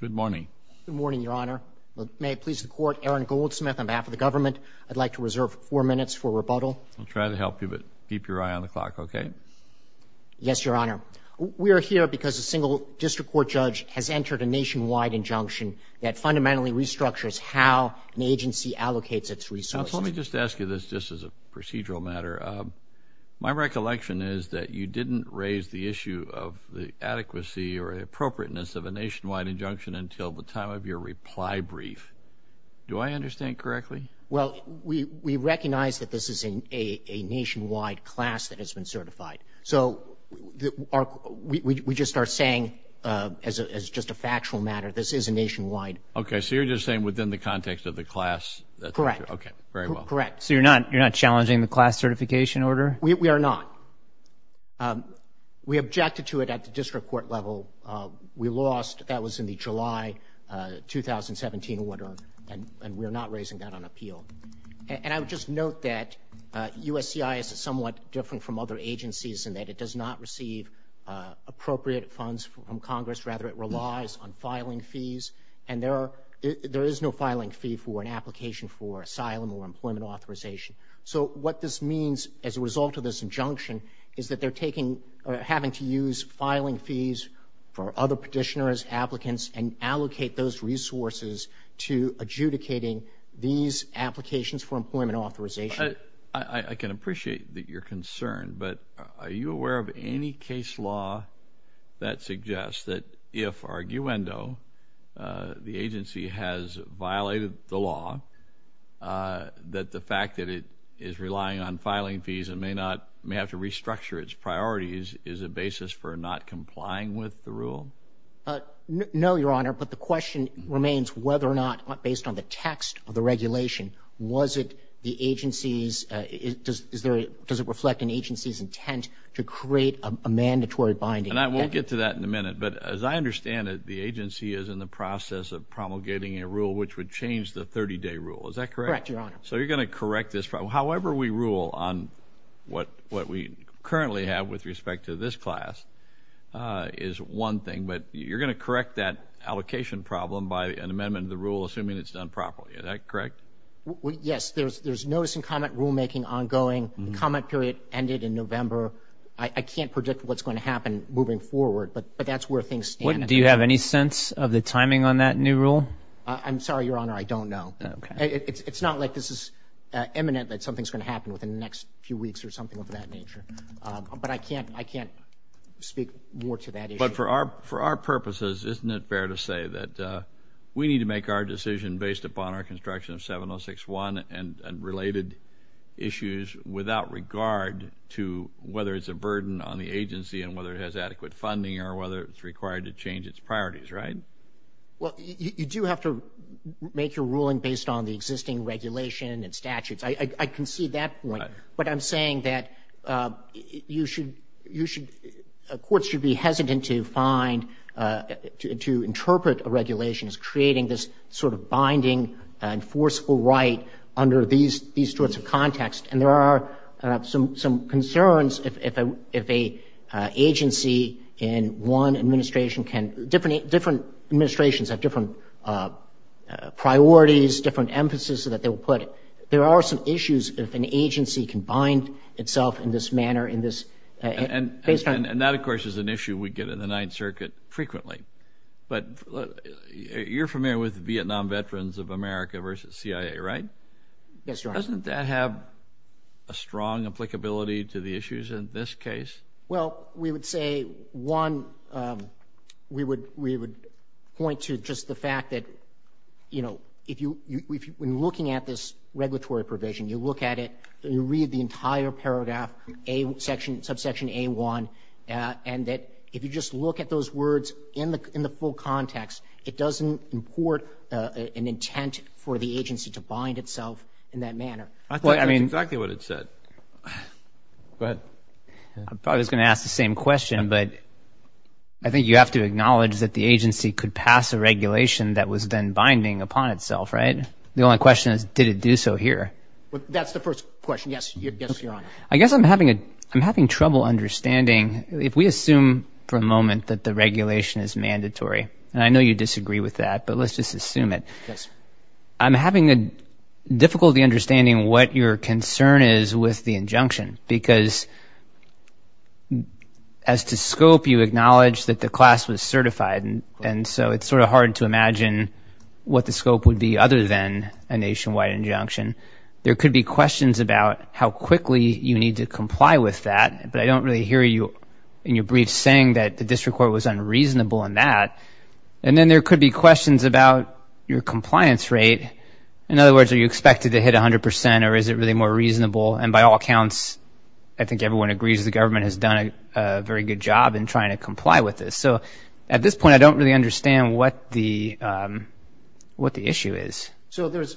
Good morning. Good morning, Your Honor. May it please the Court, Aaron Goldsmith on behalf of the government, I'd like to reserve four minutes for rebuttal. I'll try to help you, but keep your eye on the clock, okay? Yes, Your Honor. We are here because a single district court judge has entered a nationwide injunction that fundamentally restructures how an agency allocates its resources. Now, let me just ask you this, just as a procedural matter. My recollection is that you didn't raise the issue of the adequacy or appropriateness of a nationwide injunction until the time of your reply brief. Do I understand correctly? Well, we recognize that this is a nationwide class that has been certified. So we just are saying, as just a factual matter, this is a nationwide. Okay, so you're just saying within the context of the class? Correct. Okay, very well. Correct. So you're not challenging the class certification order? We are not. We objected to it at the district court level. We lost, that was in the July 2017 order, and we are not raising that on appeal. And I would just note that USCI is somewhat different from other agencies in that it does not receive appropriate funds from Congress, rather it relies on filing fees, and there is no filing fee for an application for asylum or employment authorization. So what this means as a result of this injunction is that they're taking, or having to use filing fees for other petitioners, applicants, and allocate those resources to adjudicating these applications for employment authorization. I can appreciate that you're concerned, but are you aware of any case law that suggests that if arguendo, the agency has violated the law, that the fact that it is relying on filing fees and may have to restructure its priorities is a basis for not complying with the rule? No, Your Honor, but the question remains whether or not, based on the text of the regulation, was it the agency's, does it reflect an agency's intent to create a mandatory binding? And I won't get to that in a minute, but as I understand it, the agency is in the process of promulgating a rule which would change the 30-day rule. Is that correct? Correct, Your Honor. So you're going to correct this problem, however we rule on what we currently have with respect to this class is one thing, but you're going to correct that allocation problem by an amendment of the rule, assuming it's done properly, is that correct? Yes, there's notice and comment rulemaking ongoing, comment period ended in November. I can't predict what's going to happen moving forward, but that's where things stand. Do you have any sense of the timing on that new rule? I'm sorry, Your Honor, I don't know. It's not like this is imminent, that something's going to happen within the next few weeks or something of that nature, but I can't speak more to that issue. But for our purposes, isn't it fair to say that we need to make our decision based upon our construction of 706-1 and related issues without regard to whether it's a burden on the agency and whether it has adequate funding or whether it's required to change its priorities, right? Well, you do have to make your ruling based on the existing regulation and statutes. I concede that point, but I'm saying that you should, courts should be hesitant to find, to interpret a regulation as creating this sort of binding and forceful right under these sorts of contexts, and there are some concerns if an agency in one administration can, different administrations have different priorities, different emphasis that they will put. There are some issues if an agency can bind itself in this manner, in this, based on... And that, of course, is an issue we get in the Ninth Circuit frequently, but you're familiar with the Vietnam veterans of America versus CIA, right? Yes, Your Honor. Doesn't that have a strong applicability to the issues in this case? Well, we would say, one, we would point to just the fact that, you know, if you, when looking at this regulatory provision, you look at it, you read the entire paragraph, subsection A1, and that if you just look at those words in the full context, it doesn't import an intent for the agency to bind itself in that manner. I think that's exactly what it said. Go ahead. I probably was going to ask the same question, but I think you have to acknowledge that the agency could pass a regulation that was then binding upon itself, right? The only question is, did it do so here? That's the first question. Yes, Your Honor. I guess I'm having trouble understanding, if we assume for a moment that the regulation is mandatory, and I know you disagree with that, but let's just assume it. I'm having difficulty understanding what your concern is with the injunction, because as to scope, you acknowledge that the class was certified, and so it's sort of hard to imagine what the scope would be other than a nationwide injunction. There could be questions about how quickly you need to comply with that, but I don't really hear you in your brief saying that the district court was unreasonable in that. And then there could be questions about your compliance rate. In other words, are you expected to hit 100% or is it really more reasonable? And by all accounts, I think everyone agrees the government has done a very good job in trying to comply with this. So at this point, I don't really understand what the issue is. So there's,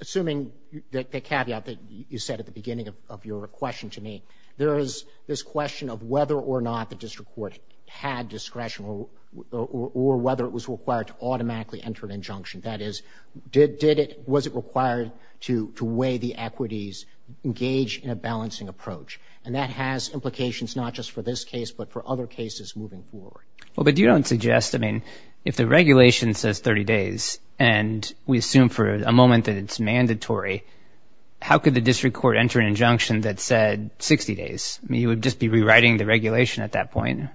assuming the caveat that you said at the beginning of your question to me, there is this question of whether or not the district court had discretion or whether it was required to automatically enter an injunction. That is, did it, was it required to weigh the equities, engage in a balancing approach? And that has implications not just for this case, but for other cases moving forward. Well, but you don't suggest, I mean, if the regulation says 30 days and we assume for a moment that it's mandatory, how could the district court enter an injunction that said 60 days? I mean, you would just be rewriting the regulation at that point.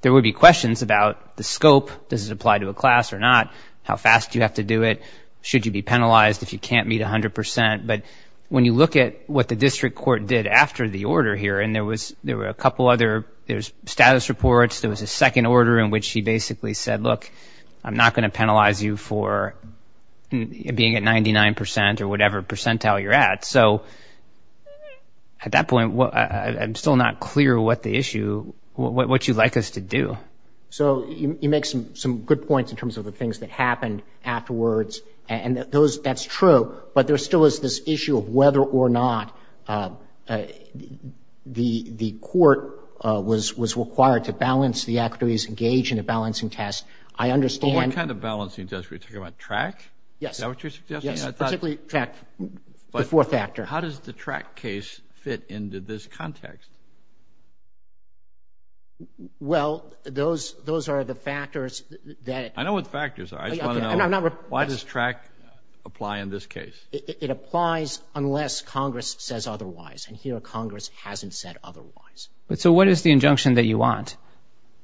There would be questions about the scope, does it apply to a class or not? How fast do you have to do it? Should you be penalized if you can't meet 100%? But when you look at what the district court did after the order here, and there was, there were a couple other, there's status reports, there was a second order in which he basically said, look, I'm not going to penalize you for being at 99% or whatever percentile you're at. So at that point, I'm still not clear what the issue, what you'd like us to do. So you make some good points in terms of the things that happened afterwards and those, that's true, but there still is this issue of whether or not the court was required to balance the equities, engage in a balancing test. I understand. But what kind of balancing test? Are we talking about track? Yes. Is that what you're suggesting? Yes. Particularly track. The fourth factor. But how does the track case fit into this context? Well, those, those are the factors that. I know what the factors are. I just want to know, why does track apply in this case? It applies unless Congress says otherwise, and here Congress hasn't said otherwise. So what is the injunction that you want?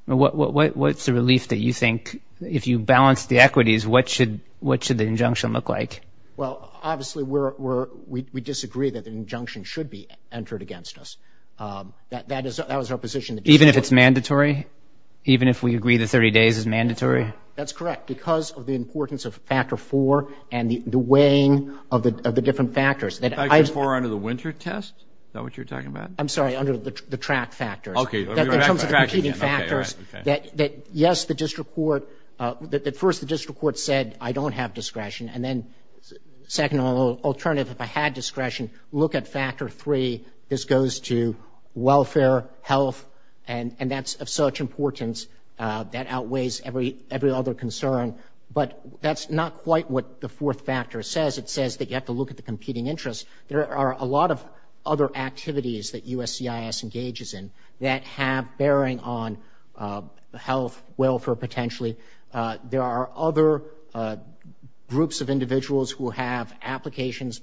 What's the relief that you think, if you balance the equities, what should, what should the injunction look like? Well, obviously we're, we're, we, we disagree that the injunction should be entered against us. That, that is, that was our position. Even if it's mandatory? Even if we agree the 30 days is mandatory? That's correct. Because of the importance of factor four and the weighing of the, of the different factors that I. Factor four under the winter test? Is that what you're talking about? I'm sorry, under the, the track factors. Okay. In terms of the competing factors that, that, yes, the district court, that, that first the district court said, I don't have discretion, and then second, alternative, if I had discretion, look at factor three. This goes to welfare, health, and, and that's of such importance that outweighs every, every other concern. But that's not quite what the fourth factor says. It says that you have to look at the competing interests. There are a lot of other activities that USCIS engages in that have bearing on health, welfare potentially. There are other groups of individuals who have applications,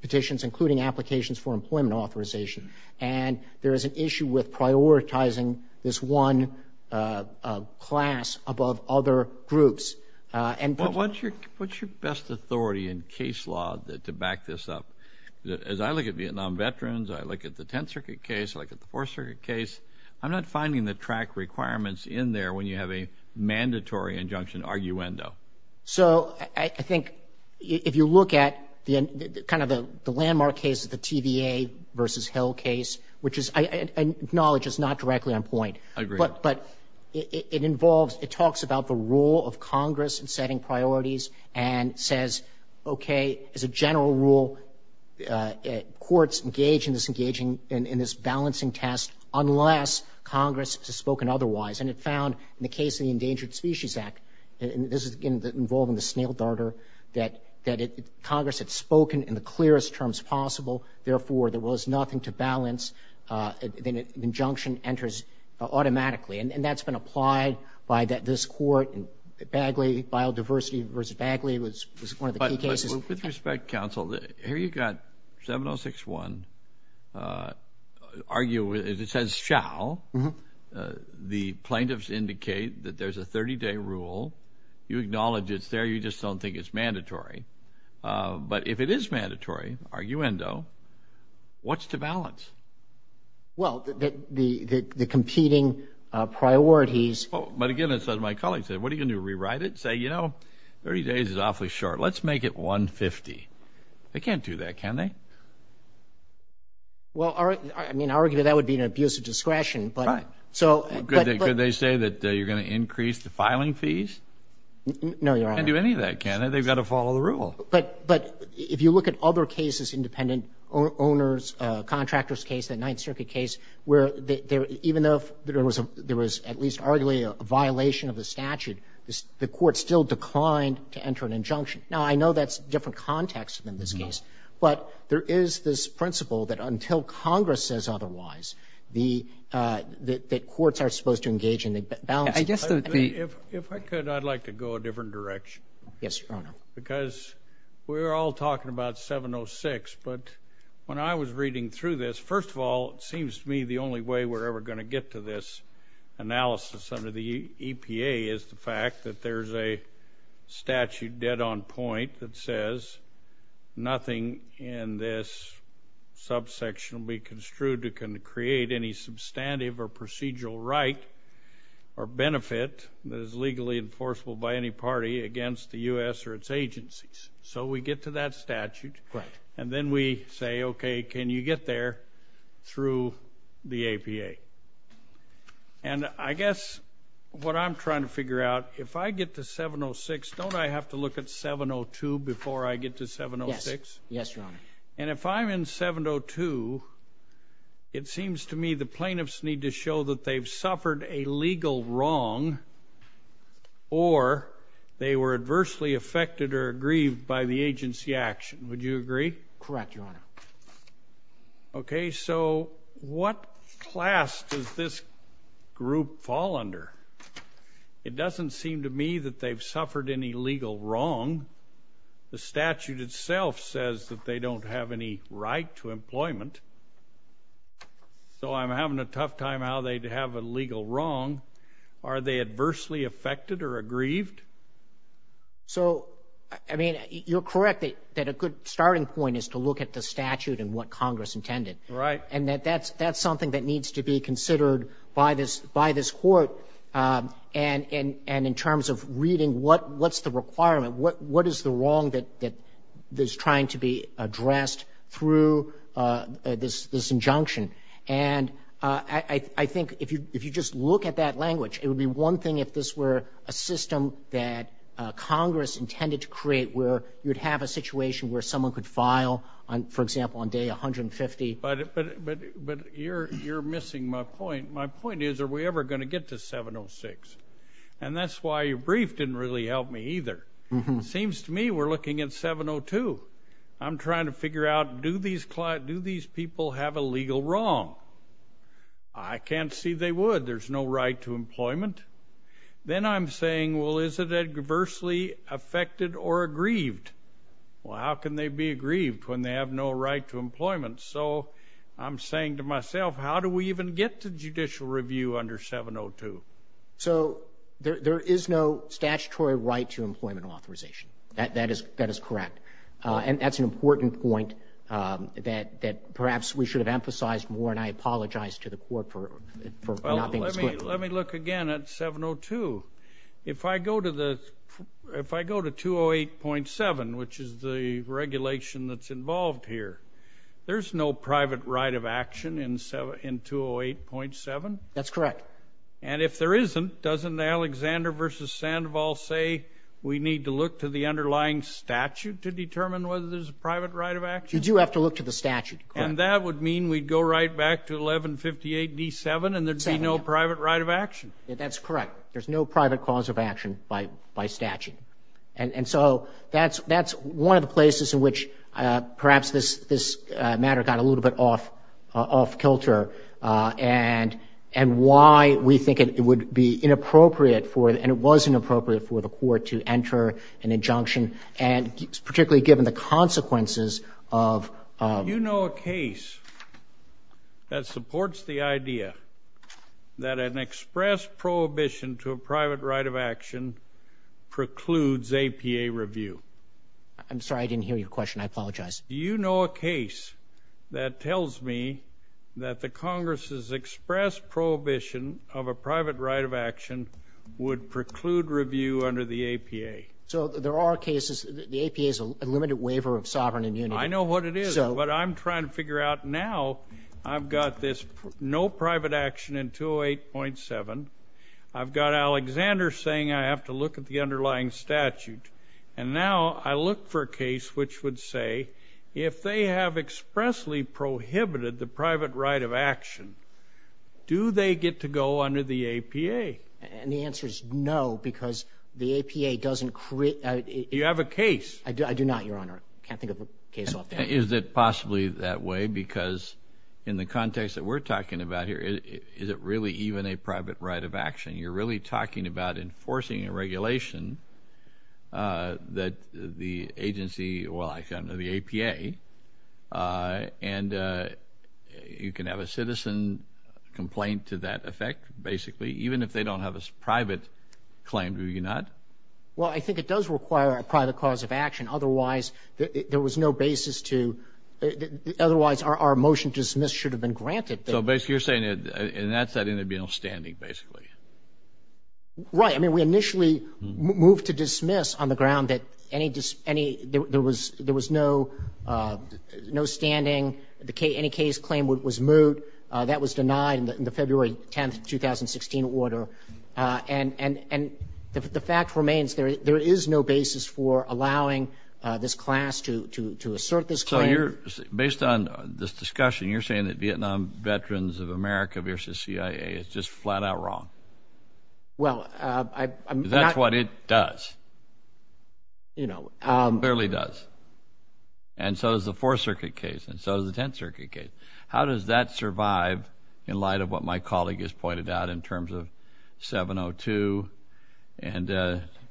petitions, including applications for employment authorization. And there is an issue with prioritizing this one class above other groups. And put. What's your, what's your best authority in case law to back this up? As I look at Vietnam veterans, I look at the Tenth Circuit case, I look at the Fourth Circuit case. I'm not finding the track requirements in there when you have a mandatory injunction arguendo. So, I, I think if you look at the, kind of the landmark case of the TVA versus Hill case, which is, I, I acknowledge it's not directly on point, but, but it, it involves, it talks about the role of Congress in setting priorities and says, okay, as a general rule, courts engage in this engaging in, in this balancing test, unless Congress has spoken otherwise. And it found in the case of the Endangered Species Act, and this is involved in the snail darter, that, that Congress had spoken in the clearest terms possible, therefore there was nothing to balance, then an injunction enters automatically. And that's been applied by this court, Bagley, Biodiversity versus Bagley was, was one of the key cases. Well, with respect, counsel, here you've got 706-1, argue, it says shall, the plaintiffs indicate that there's a 30-day rule. You acknowledge it's there, you just don't think it's mandatory. But if it is mandatory, arguendo, what's to balance? Well, the, the, the competing priorities. But again, it says, my colleague said, what are you going to do, rewrite it, say, you know, 30 days is awfully short. Let's make it 150. They can't do that, can they? Well, I mean, arguably that would be an abuse of discretion, but. Right. So. Could they, could they say that you're going to increase the filing fees? No, Your Honor. They can't do any of that, can they? They've got to follow the rule. But, but if you look at other cases, independent owners, contractors case, that Ninth Circuit case, where there, even though there was, there was at least arguably a violation of the statute, the, the court still declined to enter an injunction. Now, I know that's a different context than this case, but there is this principle that until Congress says otherwise, the, the, the courts are supposed to engage in the balance. I guess that the. If, if I could, I'd like to go a different direction. Yes, Your Honor. Because we're all talking about 706, but when I was reading through this, first of all, it seems to me the only way we're ever going to get to this analysis under the EPA is the fact that there's a statute dead on point that says nothing in this subsection will be construed that can create any substantive or procedural right or benefit that is legally enforceable by any party against the U.S. or its agencies. So we get to that statute. Right. And then we say, okay, can you get there through the APA? And I guess what I'm trying to figure out, if I get to 706, don't I have to look at 702 before I get to 706? Yes. Yes, Your Honor. And if I'm in 702, it seems to me the plaintiffs need to show that they've suffered a legal wrong or they were adversely affected or aggrieved by the agency action. Would you agree? Correct, Your Honor. Okay. So what class does this group fall under? It doesn't seem to me that they've suffered any legal wrong. The statute itself says that they don't have any right to employment, so I'm having a tough time how they have a legal wrong. Are they adversely affected or aggrieved? So, I mean, you're correct that a good starting point is to look at the statute and what Congress intended. Right. And that's something that needs to be considered by this Court and in terms of reading what's the requirement, what is the wrong that is trying to be addressed through this injunction. And I think if you just look at that language, it would be one thing if this were a system that Congress intended to create where you'd have a situation where someone could file, for example, on day 150. But you're missing my point. My point is, are we ever going to get to 706? And that's why your brief didn't really help me either. Seems to me we're looking at 702. I'm trying to figure out, do these people have a legal wrong? I can't see they would. There's no right to employment. Then I'm saying, well, is it adversely affected or aggrieved? Well, how can they be aggrieved when they have no right to employment? So I'm saying to myself, how do we even get to judicial review under 702? So there is no statutory right to employment authorization. That is correct. And that's an important point that perhaps we should have emphasized more, and I apologize to the Court for not being as quick. Let me look again at 702. If I go to 208.7, which is the regulation that's involved here, there's no private right of action in 208.7? That's correct. And if there isn't, doesn't Alexander v. Sandoval say we need to look to the underlying statute to determine whether there's a private right of action? You do have to look to the statute. And that would mean we'd go right back to 1158.d.7, and there'd be no private right of action? That's correct. There's no private cause of action by statute. And so that's one of the places in which perhaps this matter got a little bit off kilter, and why we think it would be inappropriate for, and it was inappropriate for, the Court to enter an injunction, and particularly given the consequences of— Do you know a case that supports the idea that an express prohibition to a private right of action precludes APA review? I'm sorry, I didn't hear your question. I apologize. Do you know a case that tells me that the Congress's express prohibition of a private right of action would preclude review under the APA? So there are cases—the APA is a limited waiver of sovereign immunity. I know what it is. But I'm trying to figure out now, I've got this no private action in 208.7. I've got Alexander saying I have to look at the underlying statute. And now I look for a case which would say, if they have expressly prohibited the private right of action, do they get to go under the APA? And the answer is no, because the APA doesn't— You have a case. I do not, Your Honor. I can't think of a case off the top of my head. Is it possibly that way? Because in the context that we're talking about here, is it really even a private right of action? You're really talking about enforcing a regulation that the agency—well, I say under the APA. And you can have a citizen complaint to that effect, basically, even if they don't have a private claim, do you not? Well, I think it does require a private cause of action. Otherwise, there was no basis to—otherwise, our motion to dismiss should have been granted. So basically, you're saying that in that setting, there'd be no standing, basically. Right. I mean, we initially moved to dismiss on the ground that there was no standing. Any case claim that was moved, that was denied in the February 10, 2016 order. And the fact remains, there is no basis for allowing this class to assert this claim. So you're—based on this discussion, you're saying that Vietnam Veterans of America v. CIA is just flat-out wrong. Well, I'm not— Because that's what it does. You know. It barely does. And so is the Fourth Circuit case, and so is the Tenth Circuit case. How does that survive in light of what my colleague has pointed out in terms of 702 and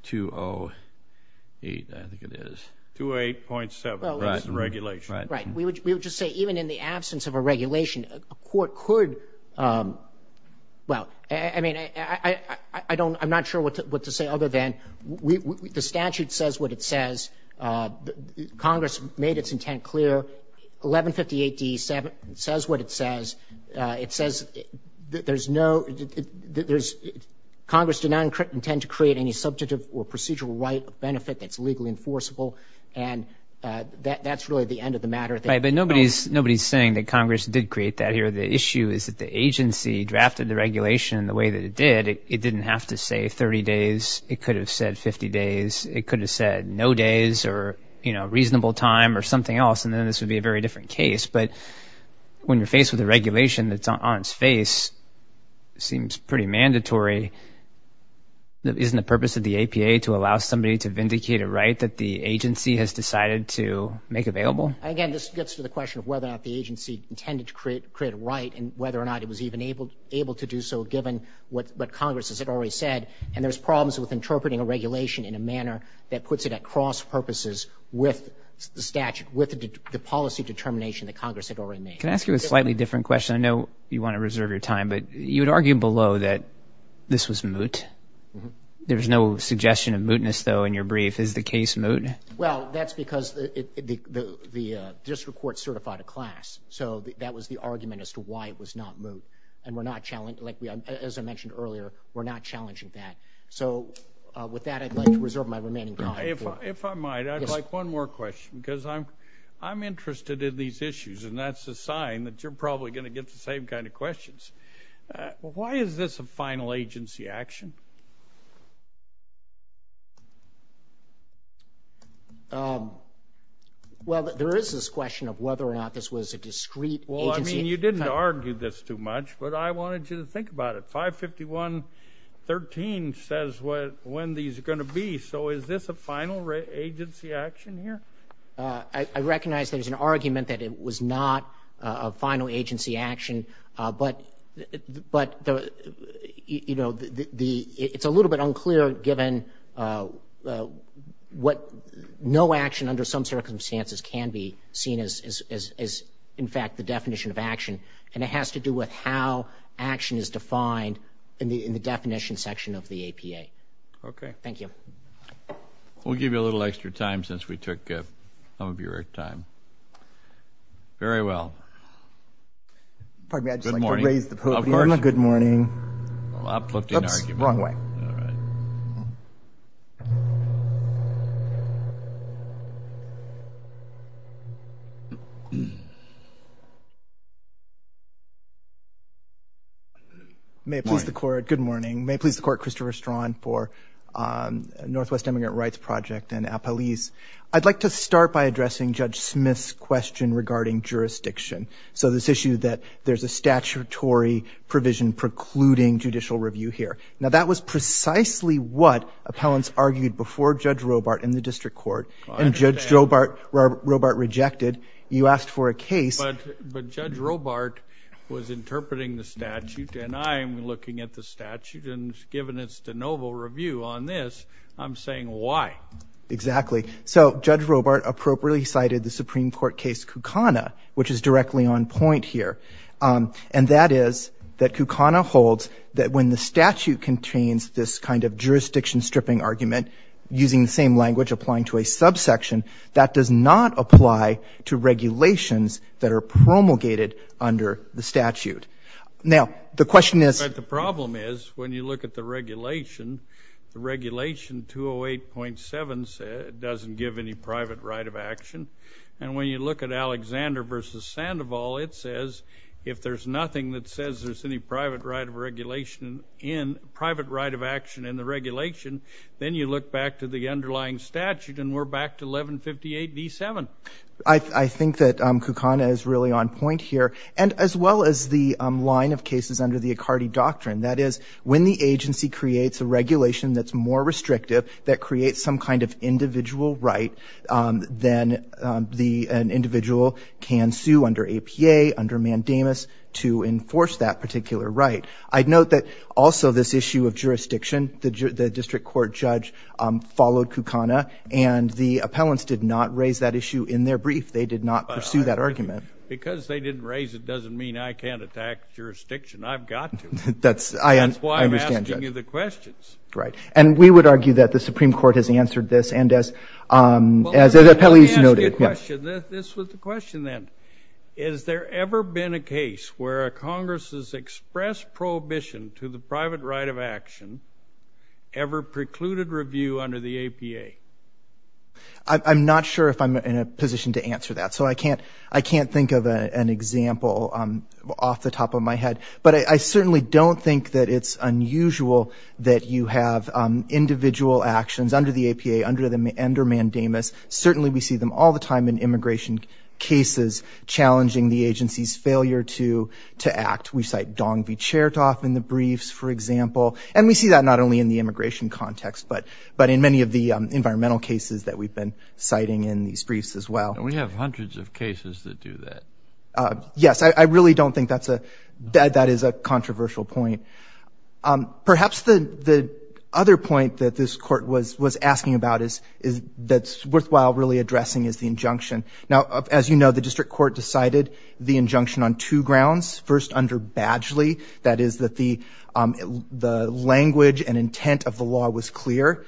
208? I think it is. 208.7. Right. It's the regulation. Right. We would just say, even in the absence of a regulation, a court could—well, I mean, I don't—I'm not sure what to say other than the statute says what it says. Congress made its intent clear. 1158D says what it says. It says that there's no—that there's—Congress did not intend to create any subjective or procedural right of benefit that's legally enforceable. And that's really the end of the matter. Right. But nobody's saying that Congress did create that here. The issue is that the agency drafted the regulation the way that it did. It didn't have to say 30 days. It could have said 50 days. It could have said no days or, you know, reasonable time or something else. And then this would be a very different case. But when you're faced with a regulation that's on its face, it seems pretty mandatory. Isn't the purpose of the APA to allow somebody to vindicate a right that the agency has decided to make available? Again, this gets to the question of whether or not the agency intended to create a right and whether or not it was even able to do so, given what Congress has already said. And there's problems with interpreting a regulation in a manner that puts it at cross-purposes with the statute, with the policy determination that Congress had already made. Can I ask you a slightly different question? I know you want to reserve your time. But you had argued below that this was moot. There's no suggestion of mootness, though, in your brief. Is the case moot? Well, that's because the district court certified a class. So that was the argument as to why it was not moot. And we're not – as I mentioned earlier, we're not challenging that. So with that, I'd like to reserve my remaining time. If I might, I'd like one more question because I'm interested in these issues, and that's a sign that you're probably going to get the same kind of questions. Why is this a final agency action? Well, there is this question of whether or not this was a discrete agency. Well, I mean, you didn't argue this too much, but I wanted you to think about it. 551.13 says when these are going to be. So is this a final agency action here? I recognize there's an argument that it was not a final agency action. But, you know, it's a little bit unclear, given what no action under some circumstances can be seen as, in fact, the definition of action. And it has to do with how action is defined in the definition section of the APA. Okay. Thank you. We'll give you a little extra time since we took some of your time. Very well. Pardon me, I'd just like to raise the podium. Good morning. Oops, wrong way. All right. May it please the court. Good morning. May it please the court. Christopher Strawn for Northwest Immigrant Rights Project and APALYS. I'd like to start by addressing Judge Smith's question regarding jurisdiction. So this issue that there's a statutory provision precluding judicial review here. Now, that was precisely what appellants argued before Judge Robart in the district court. And Judge Robart rejected. You asked for a case. But Judge Robart was interpreting the statute. And I'm looking at the statute. And given its de novo review on this, I'm saying why? Exactly. So Judge Robart appropriately cited the Supreme Court case Kukana, which is directly on point here. And that is that Kukana holds that when the statute contains this kind of jurisdiction stripping argument, using the same language applying to a subsection, that does not apply to regulations that are promulgated under the statute. Now, the question is the problem is when you look at the regulation, the regulation 208.7 doesn't give any private right of action. And when you look at Alexander v. Sandoval, it says if there's nothing that says there's any private right of action in the regulation, then you look back to the underlying statute and we're back to 1158.V.7. I think that Kukana is really on point here. And as well as the line of cases under the Accardi doctrine, that is when the agency creates a regulation that's more restrictive, that creates some kind of individual right, then an individual can sue under APA, under mandamus, to enforce that particular right. I'd note that also this issue of jurisdiction, the district court judge followed Kukana, and the appellants did not raise that issue in their brief. They did not pursue that argument. Because they didn't raise it doesn't mean I can't attack jurisdiction. I've got to. That's why I'm asking you the questions. Right. And we would argue that the Supreme Court has answered this and as appellees noted. Well, let me ask you a question. This was the question then. Has there ever been a case where a Congress's express prohibition to the private right of action ever precluded review under the APA? I'm not sure if I'm in a position to answer that, so I can't think of an example off the top of my head. But I certainly don't think that it's unusual that you have individual actions under the APA, under mandamus. Certainly we see them all the time in immigration cases challenging the agency's failure to act. We cite Dong v. Chertoff in the briefs, for example. And we see that not only in the immigration context, but in many of the environmental cases that we've been citing in these briefs as well. And we have hundreds of cases that do that. Yes, I really don't think that is a controversial point. Perhaps the other point that this Court was asking about that's worthwhile really addressing is the injunction. Now, as you know, the district court decided the injunction on two grounds. First, under Badgley, that is that the language and intent of the law was clear,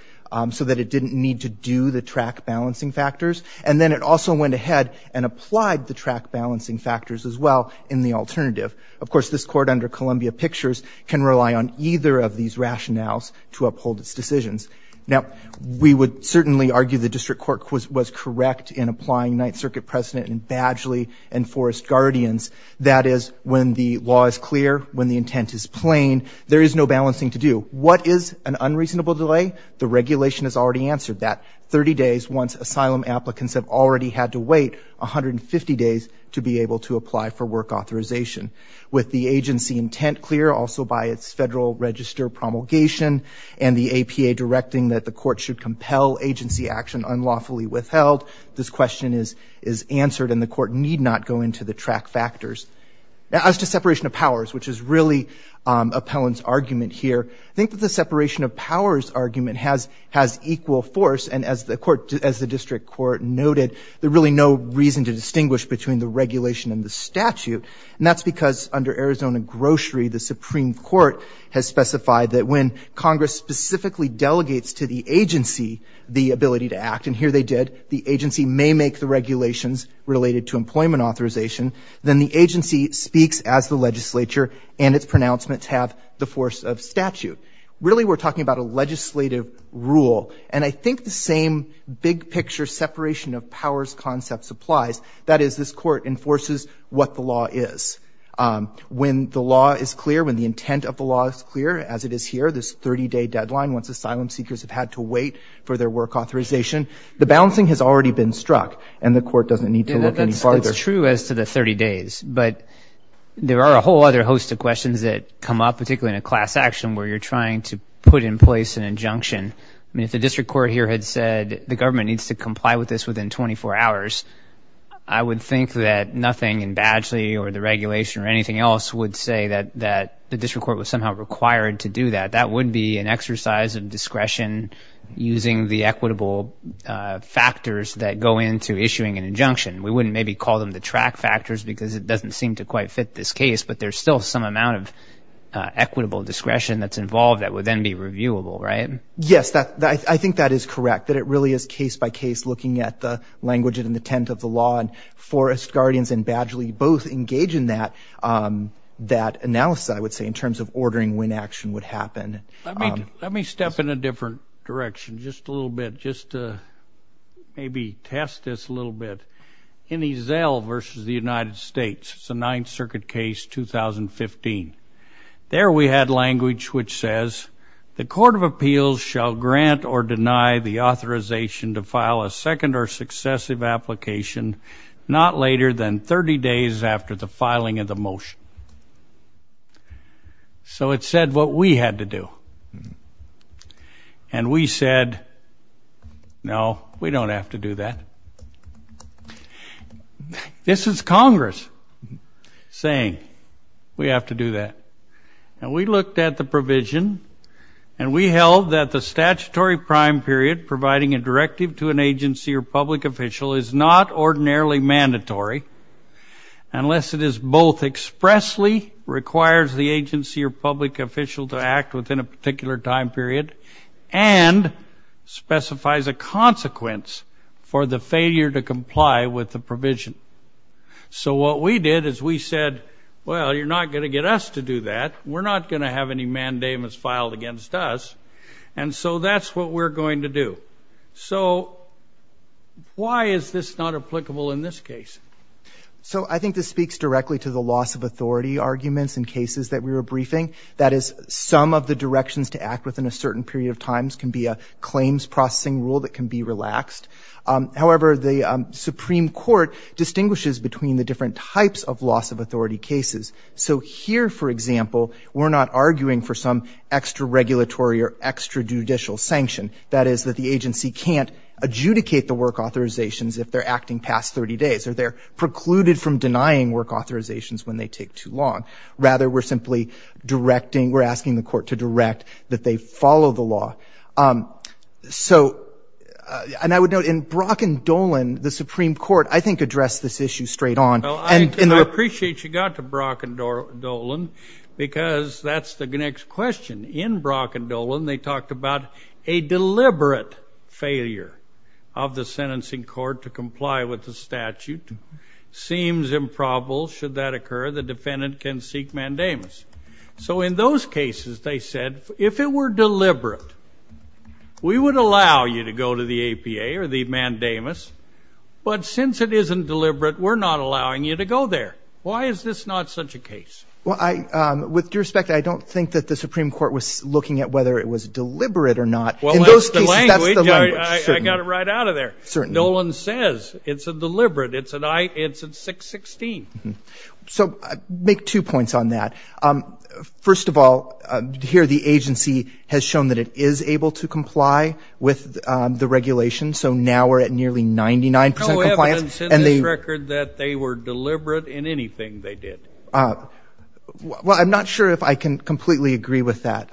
so that it didn't need to do the track balancing factors. And then it also went ahead and applied the track balancing factors as well in the alternative. Of course, this Court under Columbia Pictures can rely on either of these rationales to uphold its decisions. Now, we would certainly argue the district court was correct in applying Ninth Circuit precedent in Badgley and Forest Guardians. That is, when the law is clear, when the intent is plain, there is no balancing to do. What is an unreasonable delay? The regulation has already answered that. Thirty days, once asylum applicants have already had to wait 150 days to be able to apply for work authorization. With the agency intent clear, also by its Federal Register promulgation, and the APA directing that the Court should compel agency action unlawfully withheld, this question is answered and the Court need not go into the track factors. As to separation of powers, which is really Appellant's argument here, I think that the separation of powers argument has equal force. And as the court, as the district court noted, there's really no reason to distinguish between the regulation and the statute. And that's because under Arizona Grocery, the Supreme Court has specified that when Congress specifically delegates to the agency the ability to act, and here they did, the agency may make the regulations related to employment authorization, then the agency speaks as the legislature and its pronouncements have the force of statute. Really, we're talking about a legislative rule. And I think the same big-picture separation of powers concept applies. That is, this Court enforces what the law is. When the law is clear, when the intent of the law is clear, as it is here, this 30-day deadline once asylum seekers have had to wait for their work authorization, the balancing has already been struck and the Court doesn't need to look any farther. That's true as to the 30 days, but there are a whole other host of questions that come up, particularly in a class action where you're trying to put in place an injunction. I mean, if the district court here had said the government needs to comply with this within 24 hours, I would think that nothing in Badgley or the regulation or anything else would say that the district court was somehow required to do that. That would be an exercise of discretion using the equitable factors that go into issuing an injunction. We wouldn't maybe call them the track factors because it doesn't seem to quite fit this case, but there's still some amount of equitable discretion that's involved that would then be reviewable, right? Yes, I think that is correct, that it really is case-by-case looking at the language and intent of the law. And Forrest, Guardians, and Badgley both engage in that analysis, I would say, in terms of ordering when action would happen. Let me step in a different direction just a little bit, just to maybe test this a little bit. In Ezell versus the United States, it's a Ninth Circuit case, 2015. There we had language which says, the Court of Appeals shall grant or deny the authorization to file a second or successive application not later than 30 days after the filing of the motion. So it said what we had to do. And we said, no, we don't have to do that. This is Congress saying, we have to do that. And we looked at the provision, and we held that the statutory prime period providing a directive to an agency or public official is not ordinarily mandatory unless it is both expressly, requires the agency or public official to act within a particular time period, and specifies a consequence for the failure to comply with the provision. So what we did is we said, well, you're not going to get us to do that. We're not going to have any mandamus filed against us. And so that's what we're going to do. So why is this not applicable in this case? So I think this speaks directly to the loss of authority arguments in cases that we were briefing. That is, some of the directions to act within a certain period of times can be a claims processing rule that can be relaxed. However, the Supreme Court distinguishes between the different types of loss of authority cases. So here, for example, we're not arguing for some extra-regulatory or extra-judicial sanction. That is, that the agency can't adjudicate the work authorizations if they're acting past 30 days or they're precluded from denying work authorizations when they take too long. Rather, we're simply directing, we're asking the court to direct that they follow the law. So, and I would note, in Brock and Dolan, the Supreme Court, I think, addressed this issue straight on. Well, I appreciate you got to Brock and Dolan because that's the next question. In Brock and Dolan, they talked about a deliberate failure of the sentencing court to comply with the statute. Seems improbable. Should that occur, the defendant can seek mandamus. So in those cases, they said, if it were deliberate, we would allow you to go to the APA or the mandamus. But since it isn't deliberate, we're not allowing you to go there. Why is this not such a case? Well, with due respect, I don't think that the Supreme Court was looking at whether it was deliberate or not. In those cases, that's the language. I got it right out of there. Certainly. Dolan says it's a deliberate. It's a 616. So make two points on that. First of all, here the agency has shown that it is able to comply with the regulation. So now we're at nearly 99 percent compliance. Dolan said in his record that they were deliberate in anything they did. Well, I'm not sure if I can completely agree with that,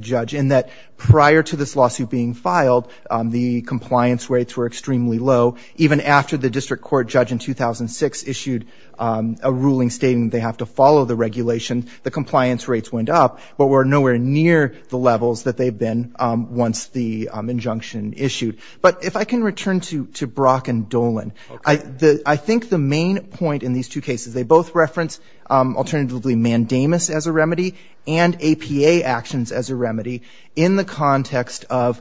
Judge, in that prior to this lawsuit being filed, the compliance rates were extremely low. Even after the district court judge in 2006 issued a ruling stating they have to follow the regulation, the compliance rates went up but were nowhere near the levels that they've been once the injunction issued. But if I can return to Brock and Dolan, I think the main point in these two cases, they both reference alternatively mandamus as a remedy and APA actions as a remedy in the context of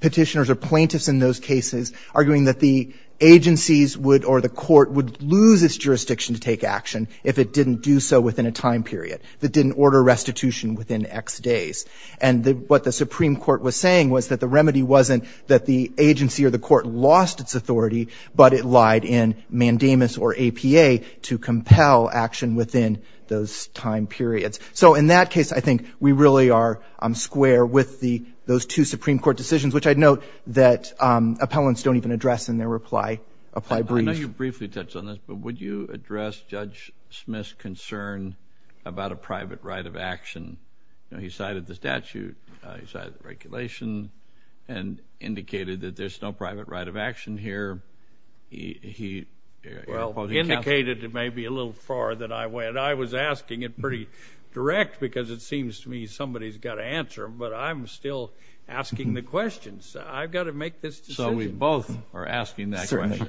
petitioners or plaintiffs in those cases arguing that the agencies would or the court would lose its jurisdiction to take action if it didn't do so within a time period, if it didn't order restitution within X days. And what the Supreme Court was saying was that the remedy wasn't that the agency or the court lost its authority, but it lied in mandamus or APA to compel action within those time periods. So in that case, I think we really are square with those two Supreme Court decisions, which I'd note that appellants don't even address in their reply briefs. I know you briefly touched on this, but would you address Judge Smith's concern about a private right of action? You know, he cited the statute. He cited the regulation and indicated that there's no private right of action here. Well, he indicated it may be a little far that I went. I was asking it pretty direct because it seems to me somebody's got to answer, but I'm still asking the questions. I've got to make this decision. So we both are asking that question.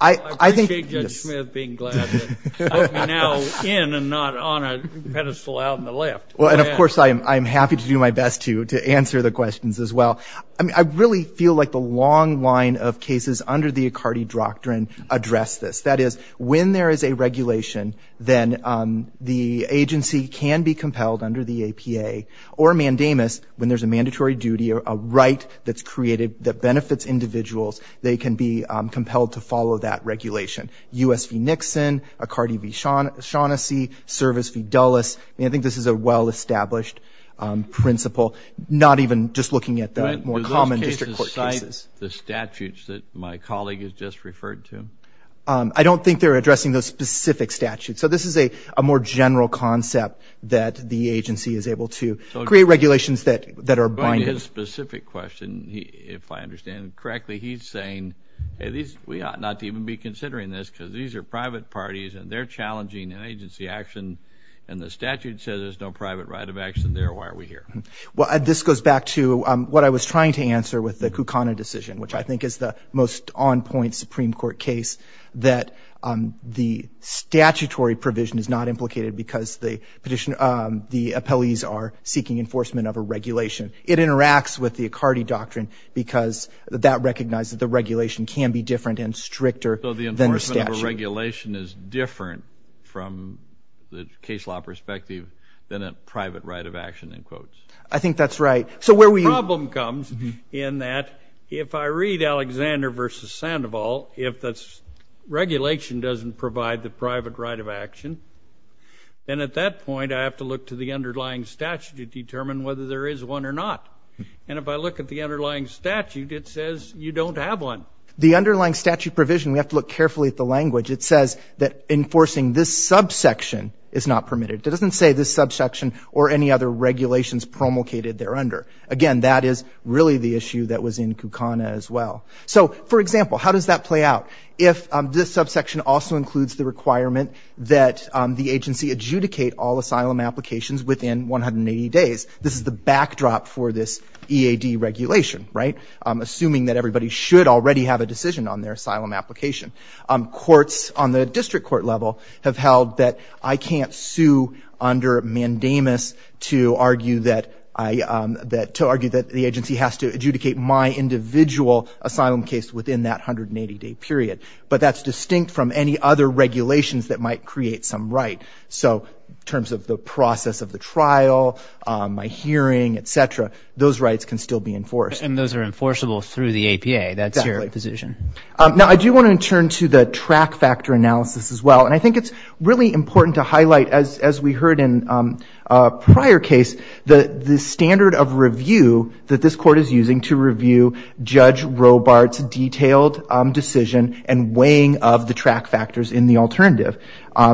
I appreciate Judge Smith being glad to put me now in and not on a pedestal out in the left. Well, and, of course, I'm happy to do my best to answer the questions as well. I mean, I really feel like the long line of cases under the Accardi Doctrine address this. That is, when there is a regulation, then the agency can be compelled under the APA, or mandamus when there's a mandatory duty or a right that's created that benefits individuals. They can be compelled to follow that regulation. U.S. v. Nixon, Accardi v. Shaughnessy, Service v. Dulles. I mean, I think this is a well-established principle, not even just looking at the more common district court cases. But do those cases cite the statutes that my colleague has just referred to? I don't think they're addressing those specific statutes. So this is a more general concept that the agency is able to create regulations that are binding. His specific question, if I understand it correctly, he's saying, we ought not to even be considering this because these are private parties, and they're challenging an agency action, and the statute says there's no private right of action there. Why are we here? Well, this goes back to what I was trying to answer with the Kukana decision, which I think is the most on-point Supreme Court case, that the statutory provision is not implicated because the appellees are seeking enforcement of a regulation. It interacts with the Accardi doctrine because that recognizes the regulation can be different and stricter than the statute. So the enforcement of a regulation is different from the case law perspective than a private right of action, in quotes. I think that's right. The problem comes in that if I read Alexander v. Sandoval, if the regulation doesn't provide the private right of action, then at that point I have to look to the underlying statute to determine whether there is one or not. And if I look at the underlying statute, it says you don't have one. The underlying statute provision, we have to look carefully at the language, it says that enforcing this subsection is not permitted. It doesn't say this subsection or any other regulations promulgated thereunder. Again, that is really the issue that was in Kukana as well. So, for example, how does that play out? If this subsection also includes the requirement that the agency adjudicate all asylum applications within 180 days, this is the backdrop for this EAD regulation, right? Assuming that everybody should already have a decision on their asylum application. Courts on the district court level have held that I can't sue under mandamus to argue that the agency has to adjudicate my individual asylum case within that 180-day period. But that's distinct from any other regulations that might create some right. So in terms of the process of the trial, my hearing, et cetera, those rights can still be enforced. And those are enforceable through the APA. Exactly. That's your position. Now I do want to turn to the track factor analysis as well. And I think it's really important to highlight, as we heard in a prior case, the standard of review that this Court is using to review Judge Robart's detailed decision and weighing of the track factors in the alternative.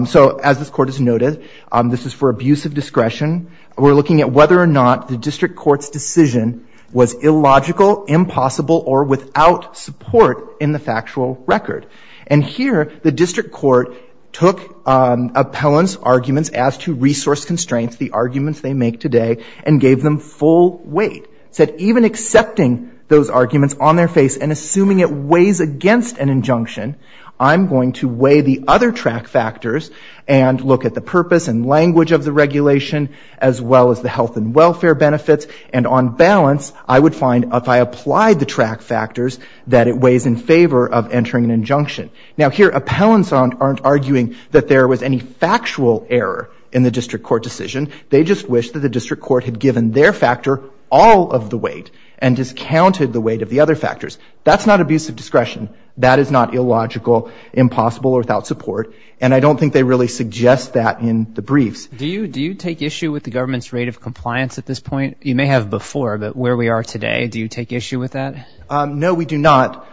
So as this Court has noted, this is for abuse of discretion. We're looking at whether or not the district court's decision was illogical, impossible, or without support in the factual record. And here the district court took appellant's arguments as to resource constraints, the arguments they make today, and gave them full weight. Said even accepting those arguments on their face and assuming it weighs against an injunction, I'm going to weigh the other track factors and look at the purpose and language of the regulation as well as the health and welfare benefits. And on balance, I would find if I applied the track factors, that it weighs in favor of entering an injunction. Now here appellants aren't arguing that there was any factual error in the district court decision. They just wish that the district court had given their factor all of the weight and discounted the weight of the other factors. That's not abuse of discretion. That is not illogical, impossible, or without support. And I don't think they really suggest that in the briefs. Do you take issue with the government's rate of compliance at this point? You may have before, but where we are today, do you take issue with that? No, we do not.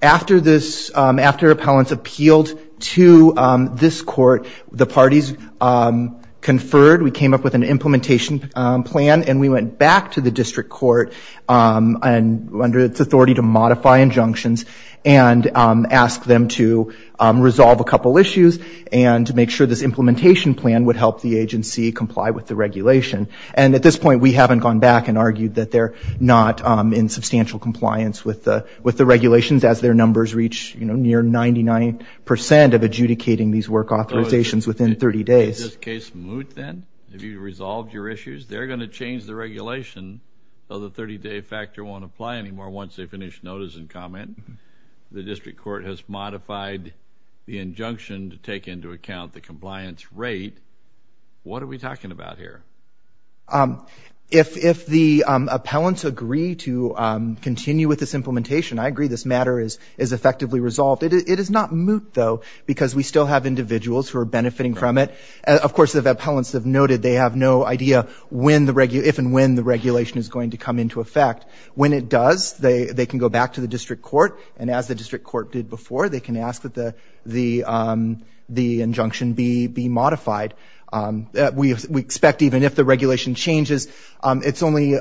After appellants appealed to this court, the parties conferred. We came up with an implementation plan, and we went back to the district court under its authority to modify injunctions and ask them to resolve a couple issues and to make sure this implementation plan would help the agency comply with the regulation. And at this point, we haven't gone back and argued that they're not in substantial compliance with the regulations as their numbers reach near 99 percent of adjudicating these work authorizations within 30 days. Is this case moot then? Have you resolved your issues? They're going to change the regulation so the 30-day factor won't apply anymore once they finish notice and comment. The district court has modified the injunction to take into account the compliance rate. What are we talking about here? If the appellants agree to continue with this implementation, I agree this matter is effectively resolved. It is not moot, though, because we still have individuals who are benefiting from it. Of course, the appellants have noted they have no idea if and when the regulation is going to come into effect. When it does, they can go back to the district court, and as the district court did before, they can ask that the injunction be modified. We expect even if the regulation changes, it's only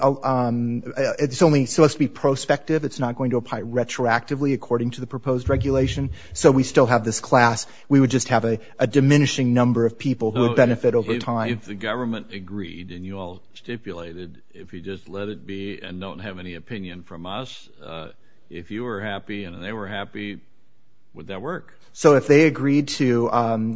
so as to be prospective. It's not going to apply retroactively according to the proposed regulation. So we still have this class. We would just have a diminishing number of people who would benefit over time. If the government agreed and you all stipulated, if you just let it be and don't have any opinion from us, if you were happy and they were happy, would that work? So if they agreed to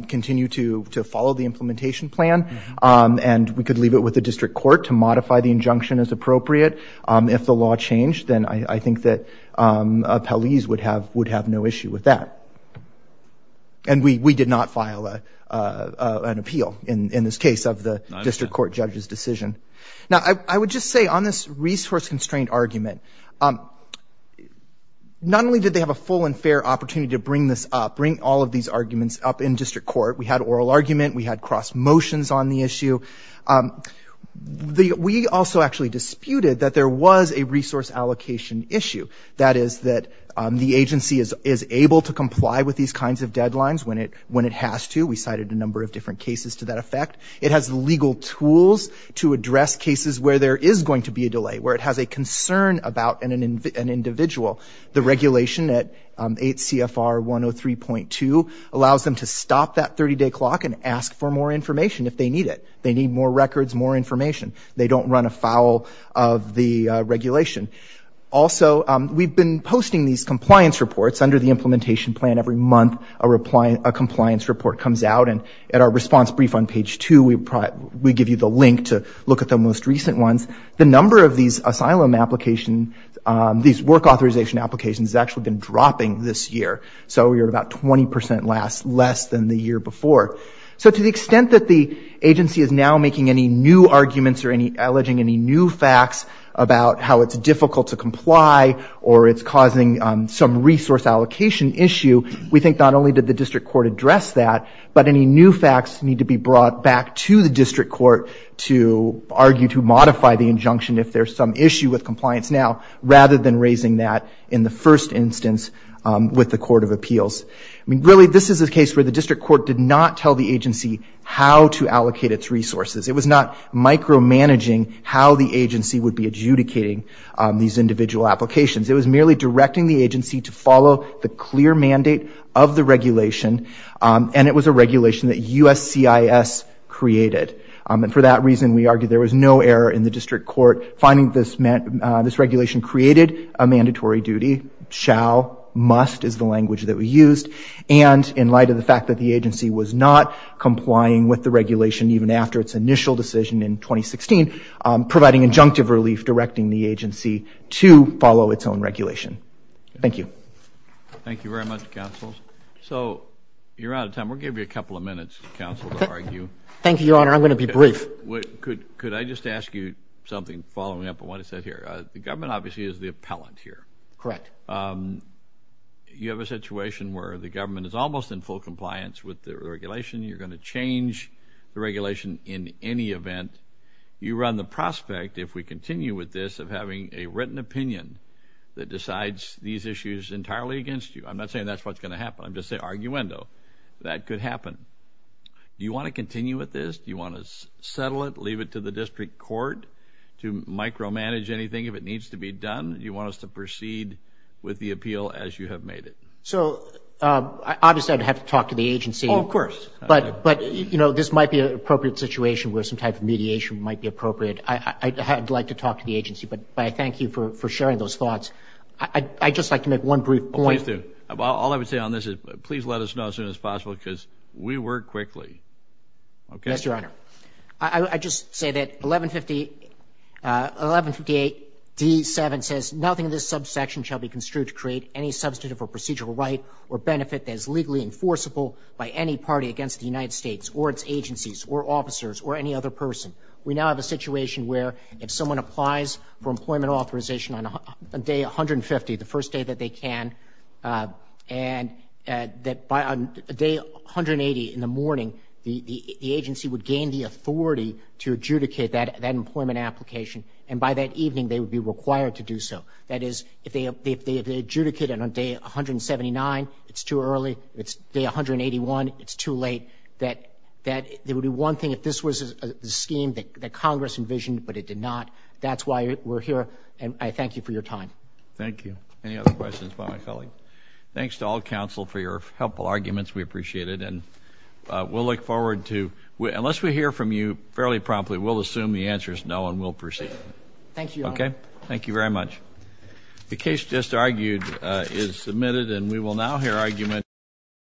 continue to follow the implementation plan and we could leave it with the district court to modify the injunction as appropriate, if the law changed, then I think that appellees would have no issue with that. And we did not file an appeal in this case of the district court judge's decision. Now, I would just say on this resource-constrained argument, not only did they have a full and fair opportunity to bring this up, bring all of these arguments up in district court, we had oral argument, we had cross motions on the issue. We also actually disputed that there was a resource allocation issue, that is that the agency is able to comply with these kinds of deadlines when it has to. We cited a number of different cases to that effect. It has legal tools to address cases where there is going to be a delay, where it has a concern about an individual. The regulation at 8 CFR 103.2 allows them to stop that 30-day clock and ask for more information if they need it. They need more records, more information. They don't run afoul of the regulation. Also, we've been posting these compliance reports under the implementation plan. Every month, a compliance report comes out. At our response brief on page 2, we give you the link to look at the most recent ones. The number of these asylum applications, these work authorization applications, has actually been dropping this year. So we are at about 20% less than the year before. So to the extent that the agency is now making any new arguments or it's causing some resource allocation issue, we think not only did the district court address that, but any new facts need to be brought back to the district court to argue to modify the injunction if there is some issue with compliance now, rather than raising that in the first instance with the court of appeals. Really, this is a case where the district court did not tell the agency how to allocate its resources. It was not micromanaging how the agency would be adjudicating these individual applications. It was merely directing the agency to follow the clear mandate of the regulation, and it was a regulation that USCIS created. For that reason, we argue there was no error in the district court finding this regulation created a mandatory duty. Shall, must is the language that we used. And in light of the fact that the agency was not complying with the regulation even after its initial decision in 2016, providing injunctive relief directing the agency to follow its own regulation. Thank you. Thank you very much, counsel. So you're out of time. We'll give you a couple of minutes, counsel, to argue. Thank you, Your Honor. I'm going to be brief. Could I just ask you something following up on what is said here? The government obviously is the appellant here. Correct. You have a situation where the government is almost in full compliance with the regulation. You're going to change the regulation in any event. You run the prospect, if we continue with this, of having a written opinion that decides these issues entirely against you. I'm not saying that's what's going to happen. I'm just saying arguendo. That could happen. Do you want to continue with this? Do you want to settle it, leave it to the district court to micromanage anything if it needs to be done? Do you want us to proceed with the appeal as you have made it? So obviously I would have to talk to the agency. Oh, of course. But, you know, this might be an appropriate situation where some type of mediation might be appropriate. I'd like to talk to the agency, but I thank you for sharing those thoughts. I'd just like to make one brief point. Please do. All I would say on this is please let us know as soon as possible because we work quickly. Yes, Your Honor. I'd just say that 1158D7 says, nothing in this subsection shall be construed to create any substantive or procedural right or benefit that is legally enforceable by any party against the United States or its agencies or officers or any other person. We now have a situation where if someone applies for employment authorization on day 150, the first day that they can, and that by day 180 in the morning, the agency would gain the authority to adjudicate that employment application, and by that evening they would be required to do so. That is, if they adjudicate it on day 179, it's too early. If it's day 181, it's too late. That would be one thing if this was the scheme that Congress envisioned, but it did not. That's why we're here, and I thank you for your time. Thank you. Any other questions by my colleague? Thanks to all counsel for your helpful arguments. We appreciate it. And we'll look forward to, unless we hear from you fairly promptly, we'll assume the answer is no and we'll proceed. Thank you, Your Honor. Okay, thank you very much. The case just argued is submitted, and we will now hear argument.